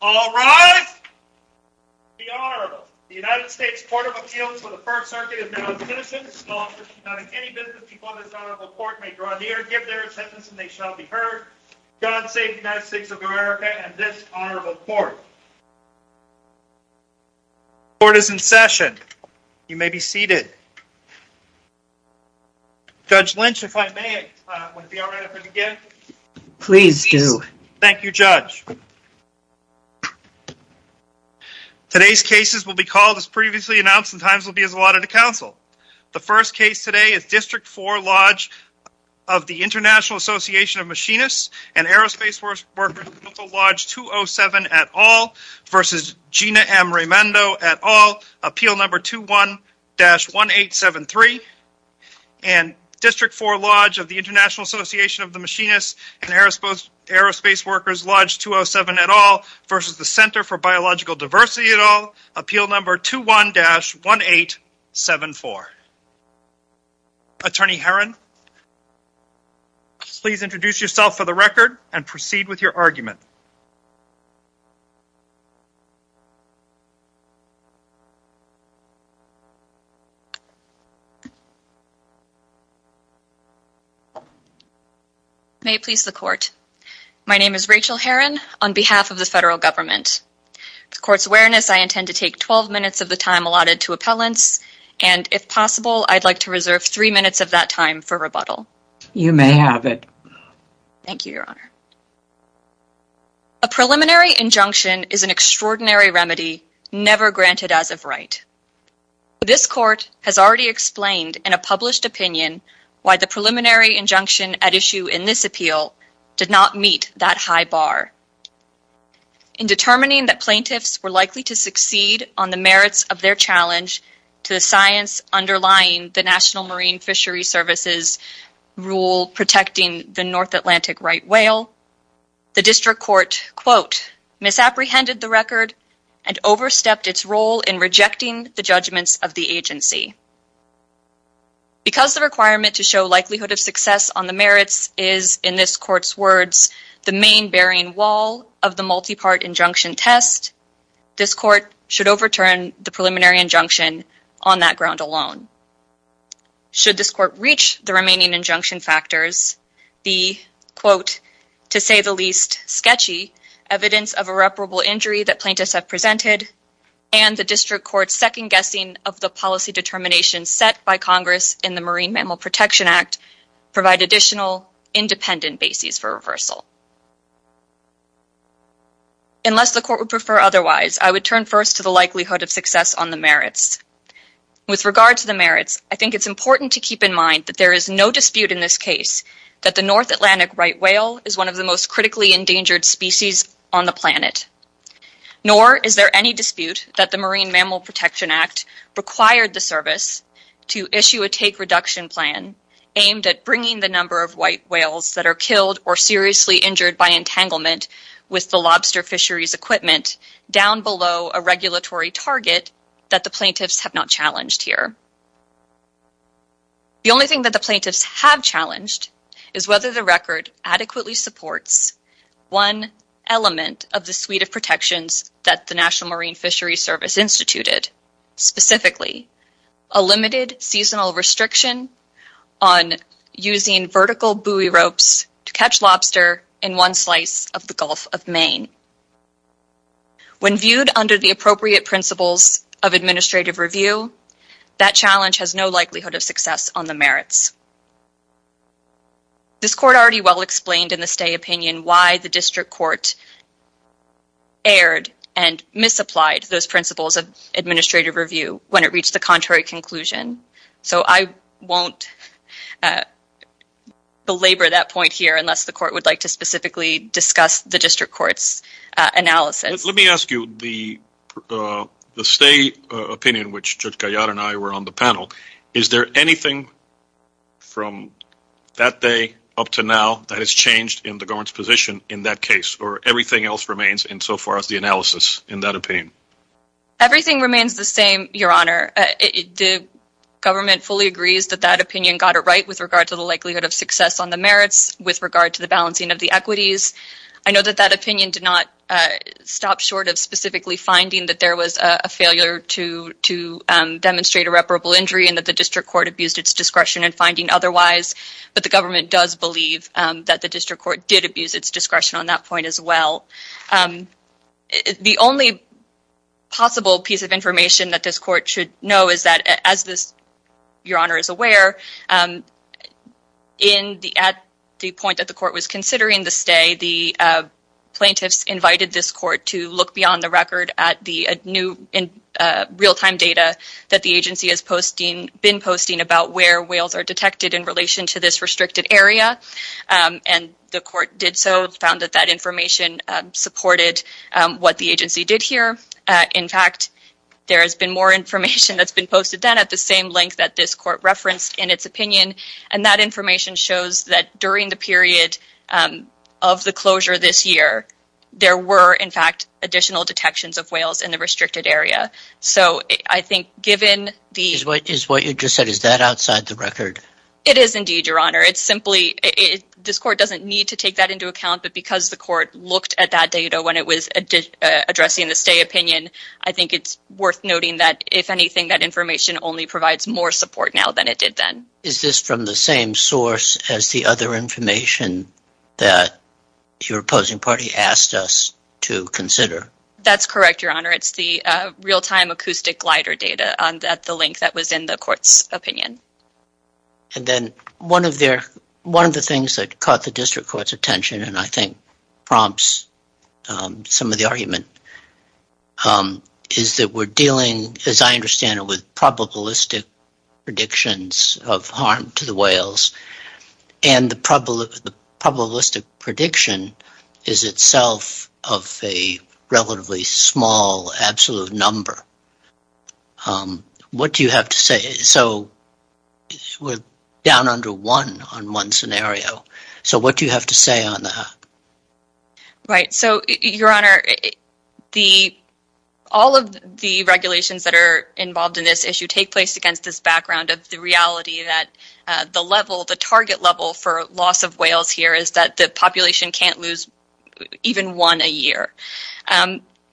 All rise. Be honorable. The United States Court of Appeals for the First Circuit is now in session. Court is in session. You may be seated. Judge Lynch, if I may, would it be alright if I begin? Please do. Thank you, Judge. Today's cases will be called as previously announced and times will be as allotted to counsel. The first case today is District 4 Lodge of the International Association of Machinists and Aerospace Workers Local Lodge 207 et al. v. Gina M. Raimondo et al. Appeal Number 21-1873 and District 4 Lodge of the International Association of the Machinists and Aerospace Workers Lodge 207 et al. v. The Center for Biological Diversity et al. Appeal Number 21-1874. Attorney Herron, please introduce yourself for the record and proceed with your argument. May it please the court. My name is Rachel Herron on behalf of the federal government. To court's awareness, I intend to take 12 minutes of the time allotted to appellants and if possible, I'd like to reserve three minutes of that time for rebuttal. You may have it. Thank you, Your Honor. A preliminary injunction is an extraordinary remedy never granted as of right. This court has already explained in a published opinion why the preliminary injunction at issue in this appeal did not meet that high bar. In determining that plaintiffs were likely to succeed on the merits of their challenge to the science underlying the National Marine Fisheries Service's rule protecting the North Atlantic right whale, the district court, quote, misapprehended the record and overstepped its role in rejecting the judgments of the agency. Because the requirement to show likelihood of success on the merits is, in this court's words, the main bearing wall of the multi-part injunction test, this court should overturn the preliminary injunction on that ground alone. Should this court reach the remaining injunction factors, the, quote, to say the least, sketchy evidence of irreparable injury that plaintiffs have presented and the district court's second guessing of the policy determination set by Congress in the Marine Mammal Protection Act provide additional independent bases for reversal. Unless the court would prefer otherwise, I would turn first to the likelihood of success on the merits. With regard to the merits, I think it's important to keep in mind that there is no dispute in this case that the North Atlantic right whale is one of the most critically endangered species on the planet, nor is there any dispute that the Marine Mammal Protection Act required the service to issue a take reduction plan aimed at bringing the number of white whales that are killed or seriously injured by entanglement with the lobster fisheries equipment down below a regulatory target that the plaintiffs have not challenged here. The only thing that the plaintiffs have challenged is whether the record adequately supports one element of the suite of protections that the National Marine Fisheries Service instituted, specifically a limited seasonal restriction on using vertical buoy ropes to catch lobster in one slice of the Gulf of Maine. When viewed under the appropriate principles of administrative review, that challenge has no likelihood of success on the merits. This court already well explained in the stay opinion why the district court erred and misapplied those principles of administrative review when it won't belabor that point here unless the court would like to specifically discuss the district court's analysis. Let me ask you the stay opinion which Judge Gallardo and I were on the panel, is there anything from that day up to now that has changed in the government's position in that case or everything else remains in so far as the analysis in that opinion? Everything remains the same, Your Honor. The government fully agrees that that opinion got it right with regard to the likelihood of success on the merits with regard to the balancing of the equities. I know that that opinion did not stop short of specifically finding that there was a failure to demonstrate irreparable injury and that the district court abused its discretion in finding otherwise, but the government does believe that the district court did abuse its discretion on that point as well. The only possible piece of information that this court should know is that as this, Your Honor, is aware, at the point that the court was considering the stay, the plaintiffs invited this court to look beyond the record at the new real-time data that the agency has been posting about where whales are detected in relation to this restricted area and the court did so, found that that information supported what the agency did here. In fact, there has been more information that's been posted then at the same length that this court referenced in its opinion and that information shows that during the period of the closure this year, there were, in fact, additional detections of whales in the restricted area. So I think given the... Is what you just said, is that outside the record? It is indeed, Your Honor. It's simply, this court doesn't need to take that into account, but because the court looked at that data when it was addressing the stay opinion, I think it's worth noting that, if anything, that information only provides more support now than it did then. Is this from the same source as the other information that your opposing party asked us to consider? That's correct, Your Honor. It's the real-time acoustic glider data at the length that was in the court's opinion. And then one of their... One of the things that caught the district court's attention and I think prompts some of the argument is that we're dealing, as I understand it, with probabilistic predictions of harm to the whales and the probabilistic prediction is itself of a relatively small absolute number. What do you have to say? So we're down under one on one scenario. So what do you have to say on that? Right. So, Your Honor, the... All of the regulations that are involved in this issue take place against this background of the reality that the level, the target level for loss of whales here is that the population can't lose even one a year.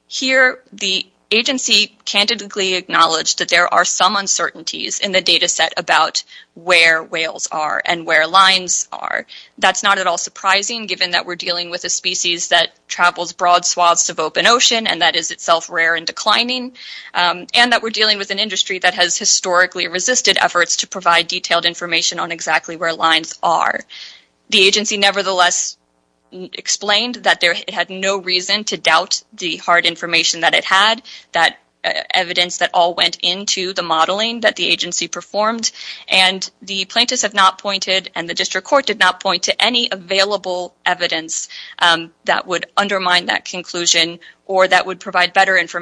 Here, the agency candidly acknowledged that there are some uncertainties in the data set about where whales are and where lines are. That's not at all surprising given that we're dealing with a species that travels broad swaths of open ocean and that is itself rare and declining and that we're dealing with an industry that has historically resisted efforts to provide detailed information on exactly where lines are. The agency nevertheless explained that it had no reason to doubt the hard information that it had, that evidence that all went into the modeling that the agency performed, and the plaintiffs have not pointed and the district court did not point to any available evidence that would undermine that conclusion or that would undermine its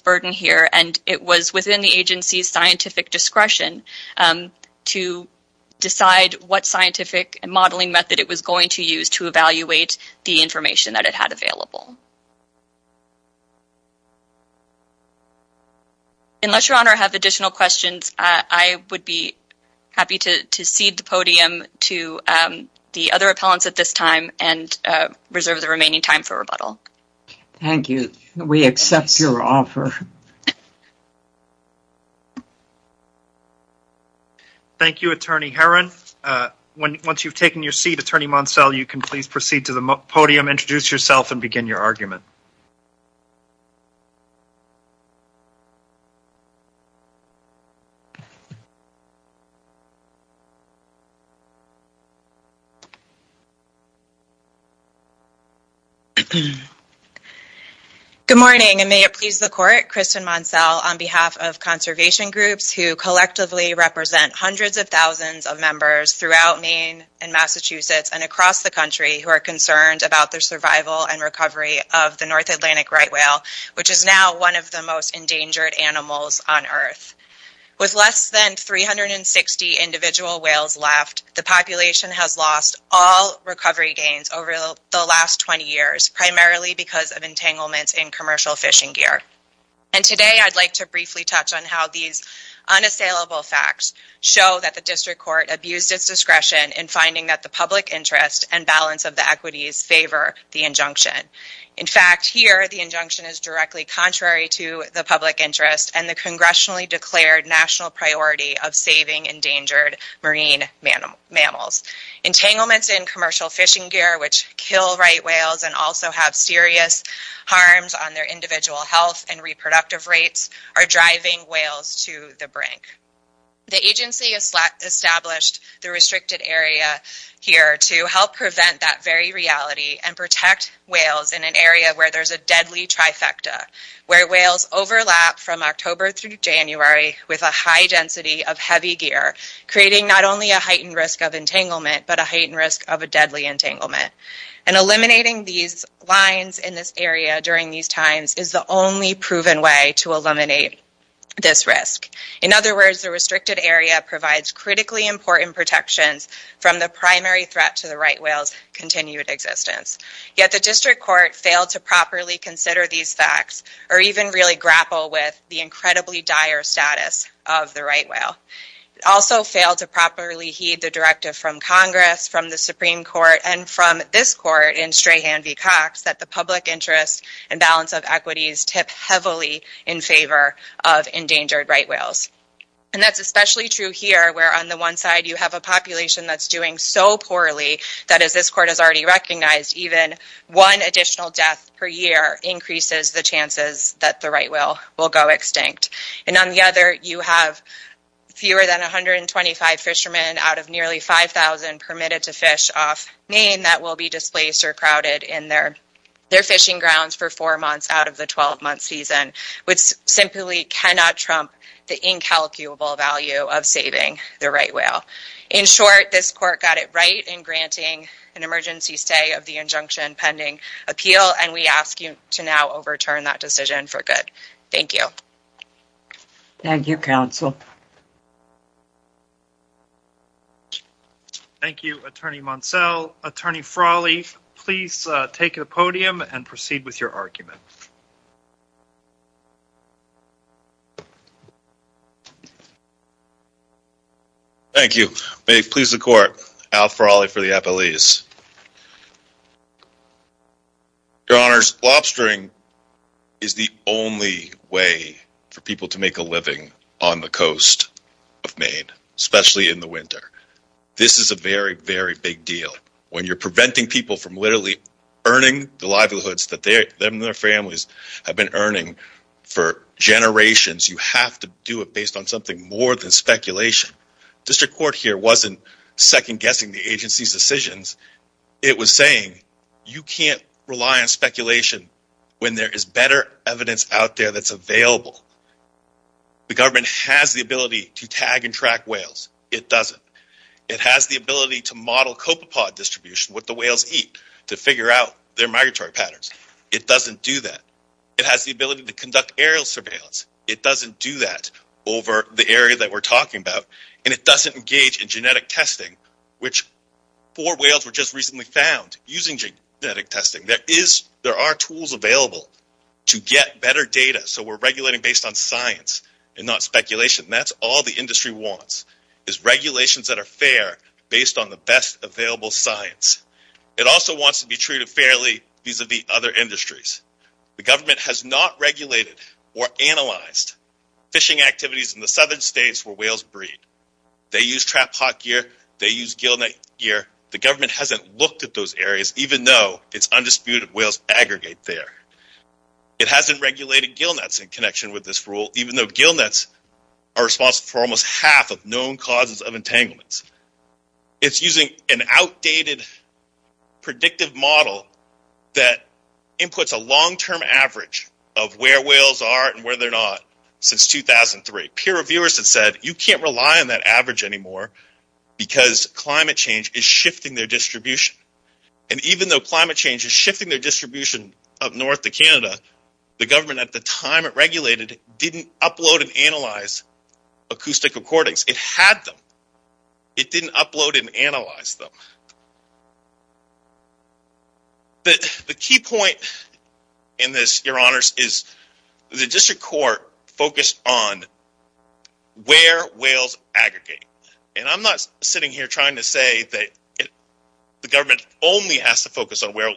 burden here, and it was within the agency's scientific discretion to decide what scientific modeling method it was going to use to evaluate the information that it had available. Unless, Your Honor, I have additional questions, I would be happy to cede the podium to the other appellants at this time and reserve the remaining time for rebuttal. Thank you. We accept your offer. Thank you, Attorney Herron. Once you've taken your seat, Attorney Moncel, you can please proceed to the podium, introduce yourself, and begin your argument. Good morning, and may it please the Court, Kristen Moncel, on behalf of conservation groups who collectively represent hundreds of thousands of members throughout Maine and Massachusetts and across the country who are concerned about the survival and recovery of the North Atlantic right whale, which is now one of the most endangered animals on earth. With less than 360 individual whales left, the population has lost all recovery gains over the last 20 years, primarily because of entanglements in commercial fishing gear. And today, I'd like to briefly touch on how these unassailable facts show that the District Court abused its discretion in finding that the public interest and balance of the equities favor the injunction. In fact, here, the injunction is directly contrary to the public interest and the congressionally declared national priority of saving endangered marine mammals. Entanglements in commercial fishing gear, which kill right whales and also have serious harms on their individual health and reproductive rates, are driving whales to the brink. The agency established the restricted area here to help prevent that very reality and protect whales in an area where there's a deadly trifecta, where whales overlap from October through January with a high density of heavy gear, creating not only a heightened risk of entanglement, but a heightened risk of a deadly entanglement. And eliminating these lines in this area during these times is the only proven way to eliminate this risk. In other words, the restricted area provides critically important protections from the primary threat to the right whale's continued existence. Yet the District Court failed to properly consider these facts, or even really grapple with the incredibly dire status of the right whale. It also failed to properly heed the directive from Congress, from the Supreme Court, and from this court in Strahan v. Cox, that the public interest and balance of equities tip heavily in favor of endangered right whales. And that's especially true here, where on the one side you have a population that's doing so poorly that, as this court has already recognized, even one additional death per year increases the chances that the right whale will go extinct. And on the other, you have fewer than 125 fishermen out of nearly 5,000 permitted to fish off Maine that will be displaced or crowded in their fishing grounds for four months out of the 12-month season, which simply cannot trump the incalculable value of saving the right whale. In short, this court got it right in granting an emergency stay of the injunction pending appeal, and we ask you to now overturn that decision for good. Thank you. Thank you, counsel. Thank you, Attorney Monsell. Attorney Frawley, please take the podium and proceed with your argument. Thank you. May it please the court, Al Frawley for the appellees. Your honors, lobstering is the only way for people to make a living on the coast of Maine, especially in the winter. This is a very, very big deal. When you're preventing people from literally earning the livelihoods that they and their families have been earning for generations, you have to do it based on something more than speculation. District Court here wasn't second-guessing the agency's decisions. It was saying you can't rely on speculation when there is better evidence out there that's available. The government has the ability to tag and track whales. It doesn't. It has the ability to model copepod distribution, what the whales eat, to figure out their migratory patterns. It doesn't do that. It has the ability to conduct aerial surveillance. It doesn't do that over the area that we're talking about, and it doesn't engage in genetic testing, which four whales were just recently found using genetic testing. There are tools available to get better data, so we're regulating based on science and not speculation. That's all the industry wants, is regulations that are fair based on the best available science. It also wants to be treated fairly vis-a-vis other industries. The government has not regulated or analyzed fishing activities in the southern states where whales breed. They use trap hot gear. They use gill net gear. The government hasn't looked at those areas, even though it's undisputed whales aggregate there. It hasn't regulated gill nets in connection with this rule, even though gill nets are responsible for almost half of known causes of entanglements. It's using an outdated predictive model that inputs a long-term average of where whales are and where they're not since 2003. Peer reviewers have said, you can't rely on that average anymore because climate change is shifting their distribution, and even though climate change is shifting their distribution up north to Canada, the government at the time it regulated didn't upload and analyze acoustic recordings. It had them. It didn't upload and analyze them. The key point in this, your honors, is the district court focused on where whales aggregate, and I'm not sitting here trying to say that the government only has to focus on where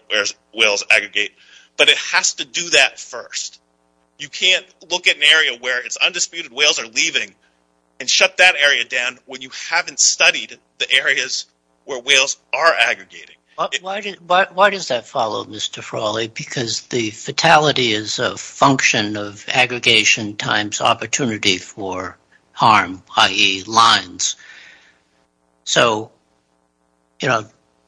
whales aggregate, but it has to do that first. You can't look at an area where it's undisputed whales are leaving and shut that area down when you haven't studied the areas where whales are aggregating. Why does that follow, Mr. Frawley? Because the fatality is a function of aggregation times opportunity for harm, i.e., lines.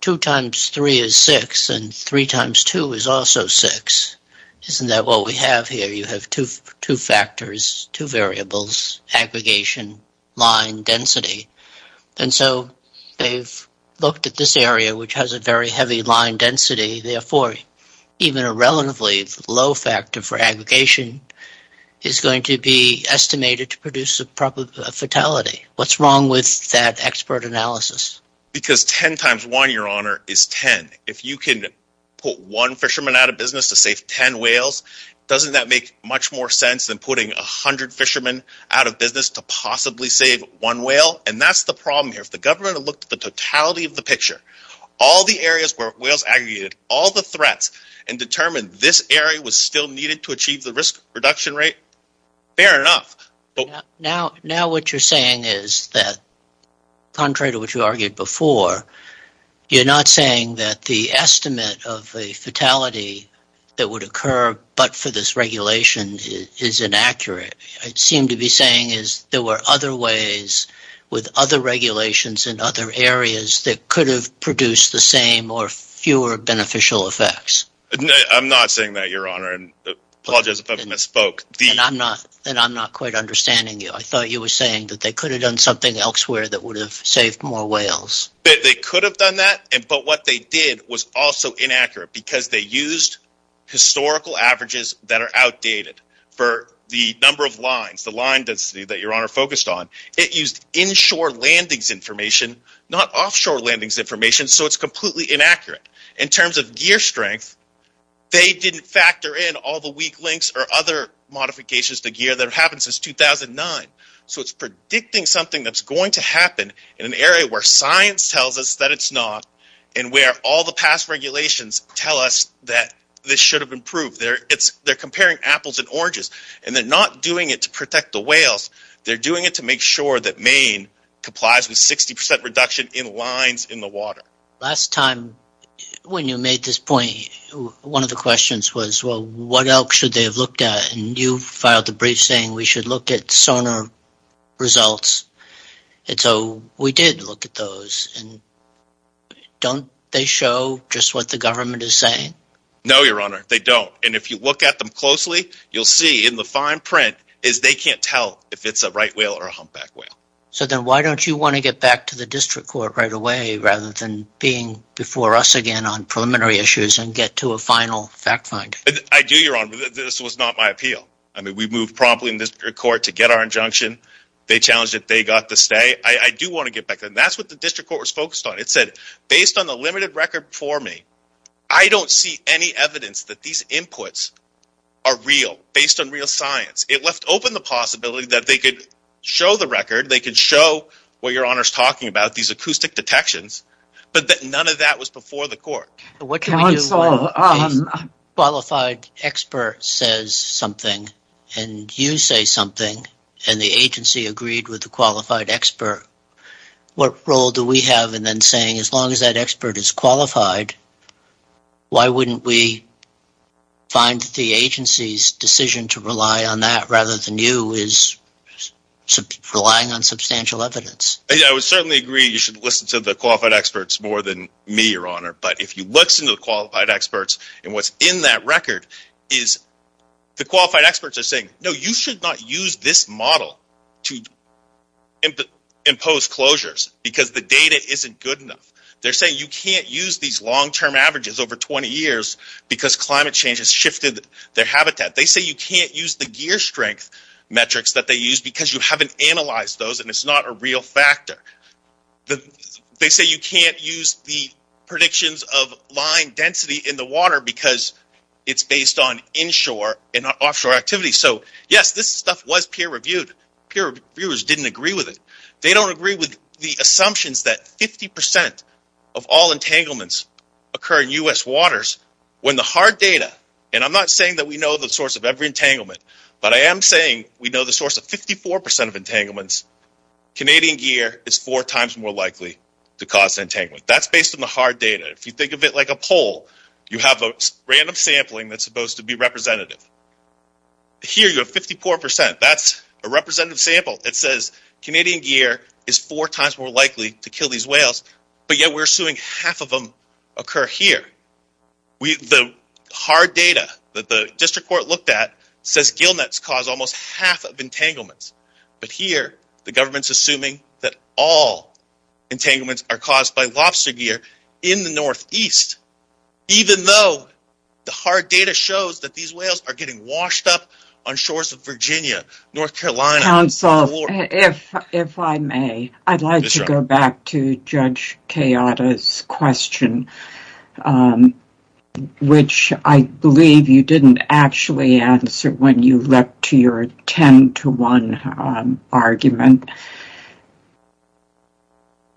Two times three is six, and three times two is also six. Isn't that what we have here? You have two factors, two variables, aggregation, line, density. They've looked at this area, which has a very heavy line density. Therefore, even a relatively low factor for aggregation is going to be estimated to produce a fatality. What's wrong with that expert analysis? Because ten times one, your honor, is ten. If you can put one fisherman out of business to save ten whales, doesn't that make much more sense than putting a hundred fishermen out of business to possibly save one whale? And that's the problem here. If the government had looked at the totality of the picture, all the areas where whales aggregated, all the threats, and determined this area was still needed to achieve the risk reduction rate, fair enough. Now what you're saying is that, contrary to what you argued before, you're not saying that the estimate of a fatality that would occur but for this regulation is inaccurate. What you seem to be saying is there were other ways with other regulations in other areas that could have produced the same or fewer beneficial effects. I'm not saying that, your honor, and apologize if I've misspoke. And I'm not quite understanding you. I thought you were saying that they could have done something elsewhere that would have saved more whales. But they could have done that, but what they did was also inaccurate because they used historical averages that are outdated for the number of lines, the line density that your landings information, not offshore landings information, so it's completely inaccurate. In terms of gear strength, they didn't factor in all the weak links or other modifications to gear that have happened since 2009. So it's predicting something that's going to happen in an area where science tells us that it's not and where all the past regulations tell us that this should have improved. They're comparing apples and oranges and they're not doing it to protect the whales, they're doing it to make sure that Maine complies with 60% reduction in lines in the water. Last time when you made this point, one of the questions was, well, what else should they have looked at? And you filed a brief saying we should look at sonar results. And so we did look at those and don't they show just what the government is saying? No, your honor, they don't. And if you find print is they can't tell if it's a right whale or a humpback whale. So then why don't you want to get back to the district court right away rather than being before us again on preliminary issues and get to a final fact find? I do, your honor. This was not my appeal. I mean, we moved promptly in this court to get our injunction. They challenged that they got to stay. I do want to get back. And that's what the district court was focused on. It said, based on the limited record for me, I don't see any evidence that these inputs are real based on real science. It left open the possibility that they could show the record. They could show what your honor's talking about, these acoustic detections, but that none of that was before the court. Qualified expert says something and you say something and the agency agreed with the qualified expert. What role do we have? And then saying, as long as that expert is qualified, why wouldn't we find the agency's decision to rely on that rather than you is relying on substantial evidence? I would certainly agree. You should listen to the qualified experts more than me, your honor. But if you listen to the qualified experts and what's in that record is the qualified experts are saying, no, you should not use this model to impose closures because the data isn't good enough. They're saying you can't use these long term averages over 20 years because climate change has shifted their habitat. They say you can't use the gear strength metrics that they use because you haven't analyzed those and it's not a real factor. They say you can't use the predictions of line density in the water because it's based on pure viewers didn't agree with it. They don't agree with the assumptions that 50% of all entanglements occur in U.S. waters when the hard data, and I'm not saying that we know the source of every entanglement, but I am saying we know the source of 54% of entanglements. Canadian gear is four times more likely to cause entanglement. That's based on the hard data. If you think of it like a poll, you have a random sampling that's supposed to be representative. Here you have 54%. That's a representative sample. It says Canadian gear is four times more likely to kill these whales, but yet we're assuming half of them occur here. The hard data that the district court looked at says gillnets cause almost half of entanglements, but here the government's assuming that all entanglements are caused by lobster gear in the northeast, even though the getting washed up on shores of Virginia, North Carolina. Counsel, if I may, I'd like to go back to Judge Kayada's question, which I believe you didn't actually answer when you leapt to your 10 to 1 argument.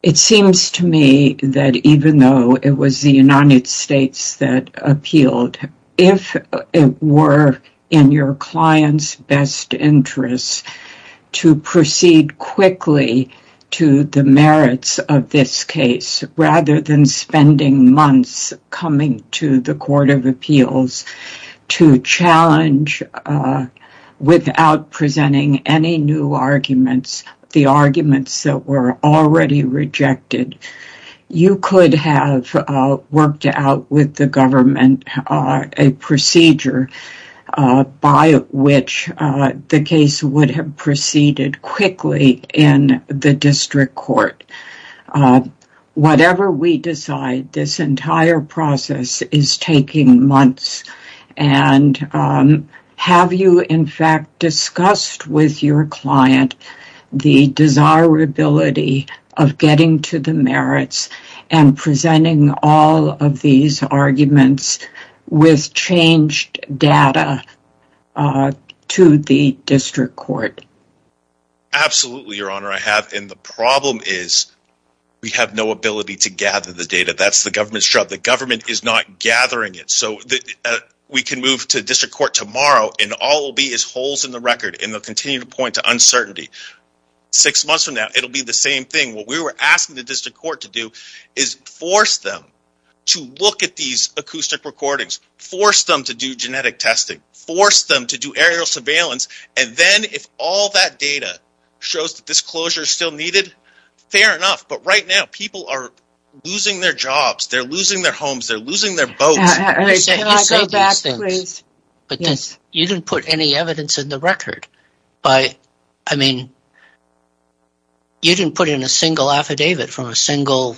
It seems to me that even though it was the United States that appealed, if it were in your client's best interest to proceed quickly to the merits of this case, rather than spending months coming to the Court of Appeals to challenge, without presenting any new arguments, the arguments that were already rejected, you could have worked out with the government a procedure by which the case would have proceeded quickly in the district court. Whatever we decide, this entire process is taking months, and have you in fact discussed with your client the desirability of getting to the merits and presenting all of these arguments with changed data to the district court? Absolutely, Your Honor, I have, and the problem is we have no ability to gather the data. That's the government's job. The government is not gathering it, so we can move to district court tomorrow and all will be as holes in the record and they'll continue to point to uncertainty. Six months from now, it'll be the same thing. What we were asking the district court to do is force them to look at these acoustic recordings, force them to do genetic testing, force them to do aerial surveillance, and then if all that data shows that this closure is still needed, fair enough, but right now people are losing their jobs, they're losing their homes, they're losing their boats. You didn't put any evidence in the record. I mean, you didn't put in a single affidavit from a single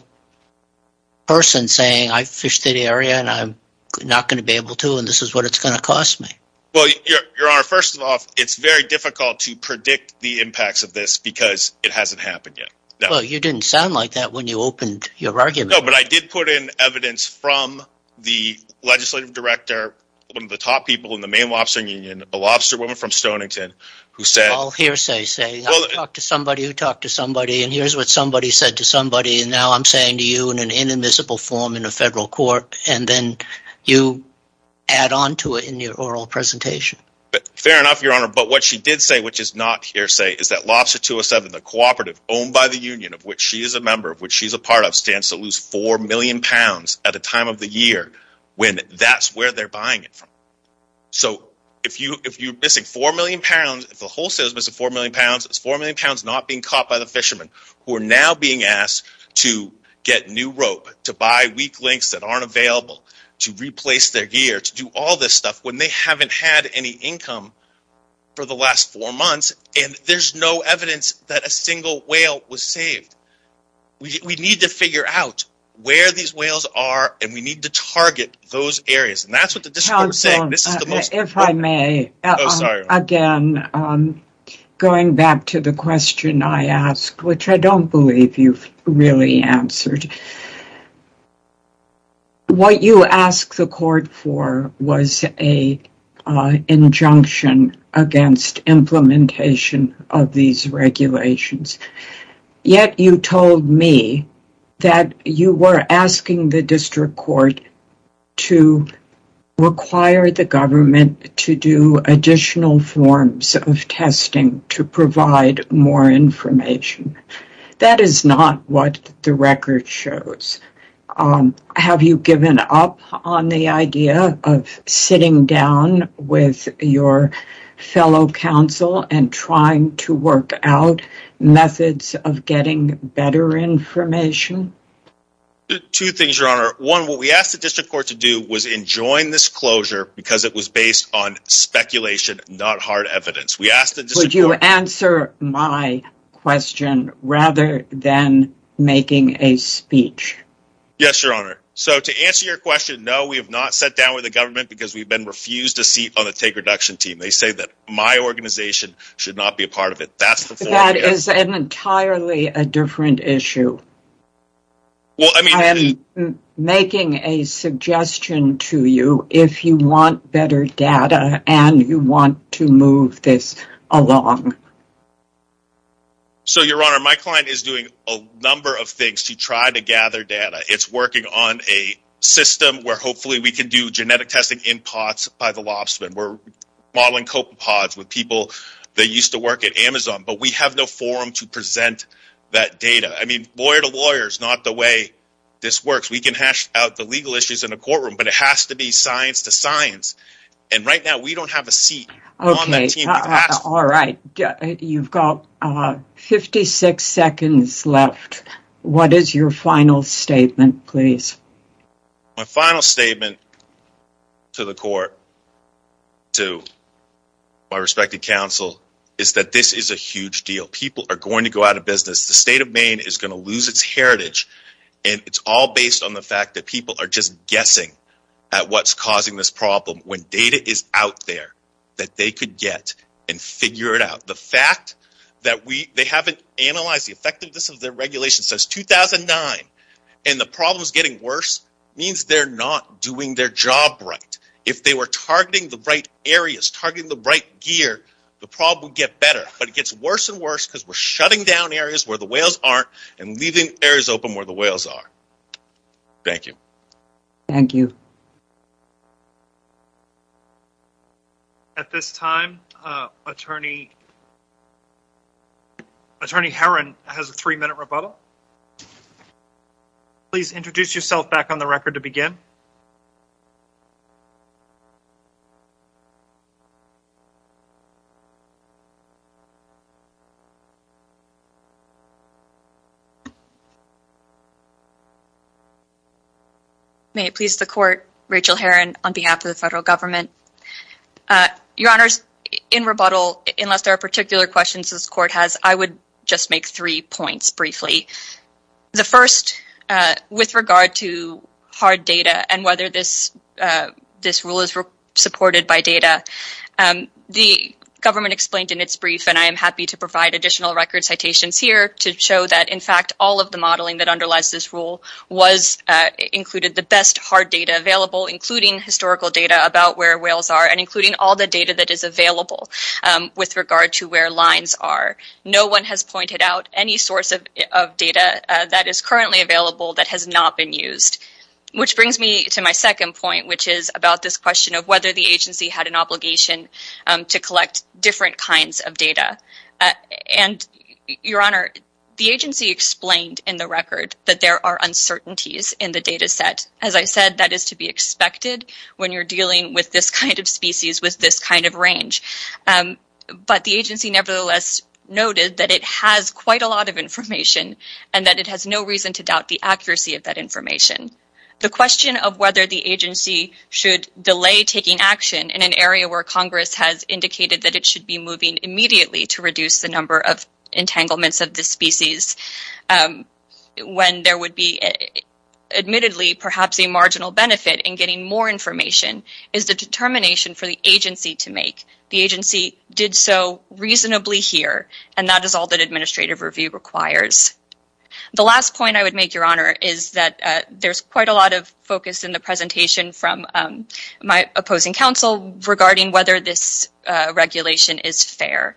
person saying I fished the area and I'm not going to be able to and this is what it's going to cost me. Well, Your Honor, first of all, it's very difficult to predict the impacts of this because it hasn't happened yet. Well, you didn't sound like that when you opened your argument. No, but I did put in evidence from the legislative director, one of the top people in the Maine Lobster Union, a lobster woman from Stonington, who said... Well, hearsay saying I talked to somebody who talked to somebody and here's what somebody said to somebody and now I'm saying to you in an inadmissible form in a federal court and then you add on to it in your oral presentation. But fair enough, Your Honor, but what she did say, which is not hearsay, is that Lobster 207, the cooperative owned by the union of which she is a member, of which she's a part of, stands to lose four million pounds at a time of the year when that's where they're buying it from. So if you're missing four million pounds, if the wholesale is missing four million pounds, it's four million pounds not being caught by the fishermen who are now being asked to get new rope, to buy weak links that aren't available, to replace their gear, to do all this stuff when they haven't had any income for the last four months and there's no evidence that a single whale was saved. We need to figure out where these whales are and we need to target those areas and that's what the district is saying. If I may, again, going back to the question I asked, which I don't believe you've really answered, what you asked the court for was an injunction against implementation of these regulations, yet you told me that you were asking the district court to require the government to do additional forms of testing to provide more information. That is not what the record shows. Have you given up on the idea of sitting down with your fellow council and trying to work out methods of getting better information? Two things, your honor. One, what we asked the district court to do was enjoin this closure because it was based on speculation, not hard evidence. Would you answer my question rather than making a speech? Yes, your honor. So to answer your question, no, we have not sat down with the government because we've been refused a seat on the take reduction team. They say that my organization should not be a part of it. That is an entirely a different issue. I'm making a suggestion to you if you want better data and you want to move this along. So your honor, my client is doing a number of things to try to gather data. It's working on a system where hopefully we can do genetic testing in pots by the lobstermen. We're modeling copepods with people that used to work at Amazon, but we have no forum to present that data. I mean, lawyer to lawyer is not the way this works. We can hash out the legal issues in a courtroom, but it has to be science to science. And right now we don't have a seat. All right. You've got 56 seconds left. What is your final statement, please? My final statement to the court, to my respected council, is that this is a huge deal. People are the state of Maine is going to lose its heritage. And it's all based on the fact that people are just guessing at what's causing this problem when data is out there that they could get and figure it out. The fact that they haven't analyzed the effectiveness of their regulation since 2009 and the problem is getting worse means they're not doing their job right. If they were targeting the right areas, targeting the right gear, the problem would get better, but it gets worse and worse because we're shutting down areas where the whales aren't and leaving areas open where the whales are. Thank you. Thank you. At this time, Attorney Herron has a three-minute rebuttal. Please introduce yourself back on the record to begin. May it please the court, Rachel Herron on behalf of the federal government. Your honors, in rebuttal, unless there are particular questions this court has, I would just make three points briefly. The first, with regard to hard data and whether this rule is supported by data, the government explained in its brief, and I am happy to provide additional record citations here to show that, in fact, all of the modeling that underlies this rule included the best hard data available, including historical data about where whales are and including all the data that is available with regard to where lines are. No one has pointed out any source of data that is currently available that has not been used. Which brings me to my second point, which is about this question of whether the agency had an obligation to collect different kinds of data. And your honor, the agency explained in the record that there are uncertainties in the data set. As I said, that is to be expected when you're dealing with this kind of species with this kind of range. But the agency nevertheless noted that it has quite a lot of information and that it has no reason to doubt the accuracy of that information. The question of whether the agency should delay taking action in an area where Congress has indicated that it should be moving immediately to reduce the number of entanglements of this species, when there would be, admittedly, perhaps a marginal benefit in getting more information, is the determination for the agency did so reasonably here. And that is all that administrative review requires. The last point I would make, your honor, is that there's quite a lot of focus in the presentation from my opposing counsel regarding whether this regulation is fair.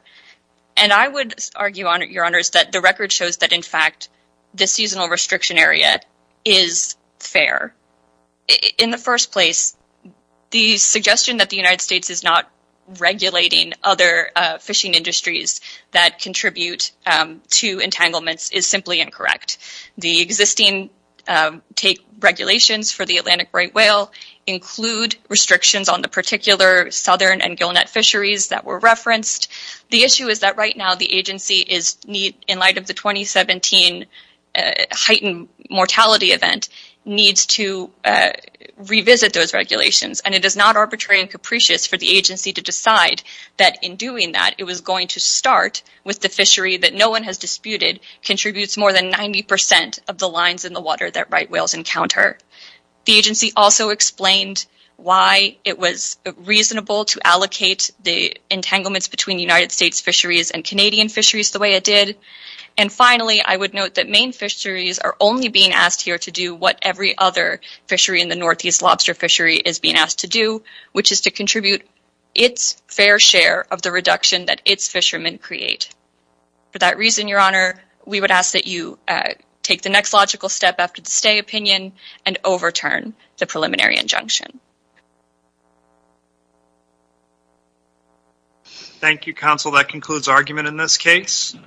And I would argue, your honors, that the record shows that, in fact, the seasonal restriction area is fair. In the first place, the suggestion that the United States is not regulating other fishing industries that contribute to entanglements is simply incorrect. The existing regulations for the Atlantic right whale include restrictions on the particular southern and gillnet fisheries that were referenced. The issue is that, right now, the agency, in light of the 2017 heightened mortality event, needs to revisit those regulations. And it is not arbitrary and capricious for the agency to decide that, in doing that, it was going to start with the fishery that no one has disputed contributes more than 90 percent of the lines in the water that right whales encounter. The agency also explained why it was And finally, I would note that Maine fisheries are only being asked here to do what every other fishery in the Northeast lobster fishery is being asked to do, which is to contribute its fair share of the reduction that its fishermen create. For that reason, your honor, we would ask that you take the next logical step after the stay opinion and overturn the preliminary injunction. Thank you, counsel. That concludes argument in this case.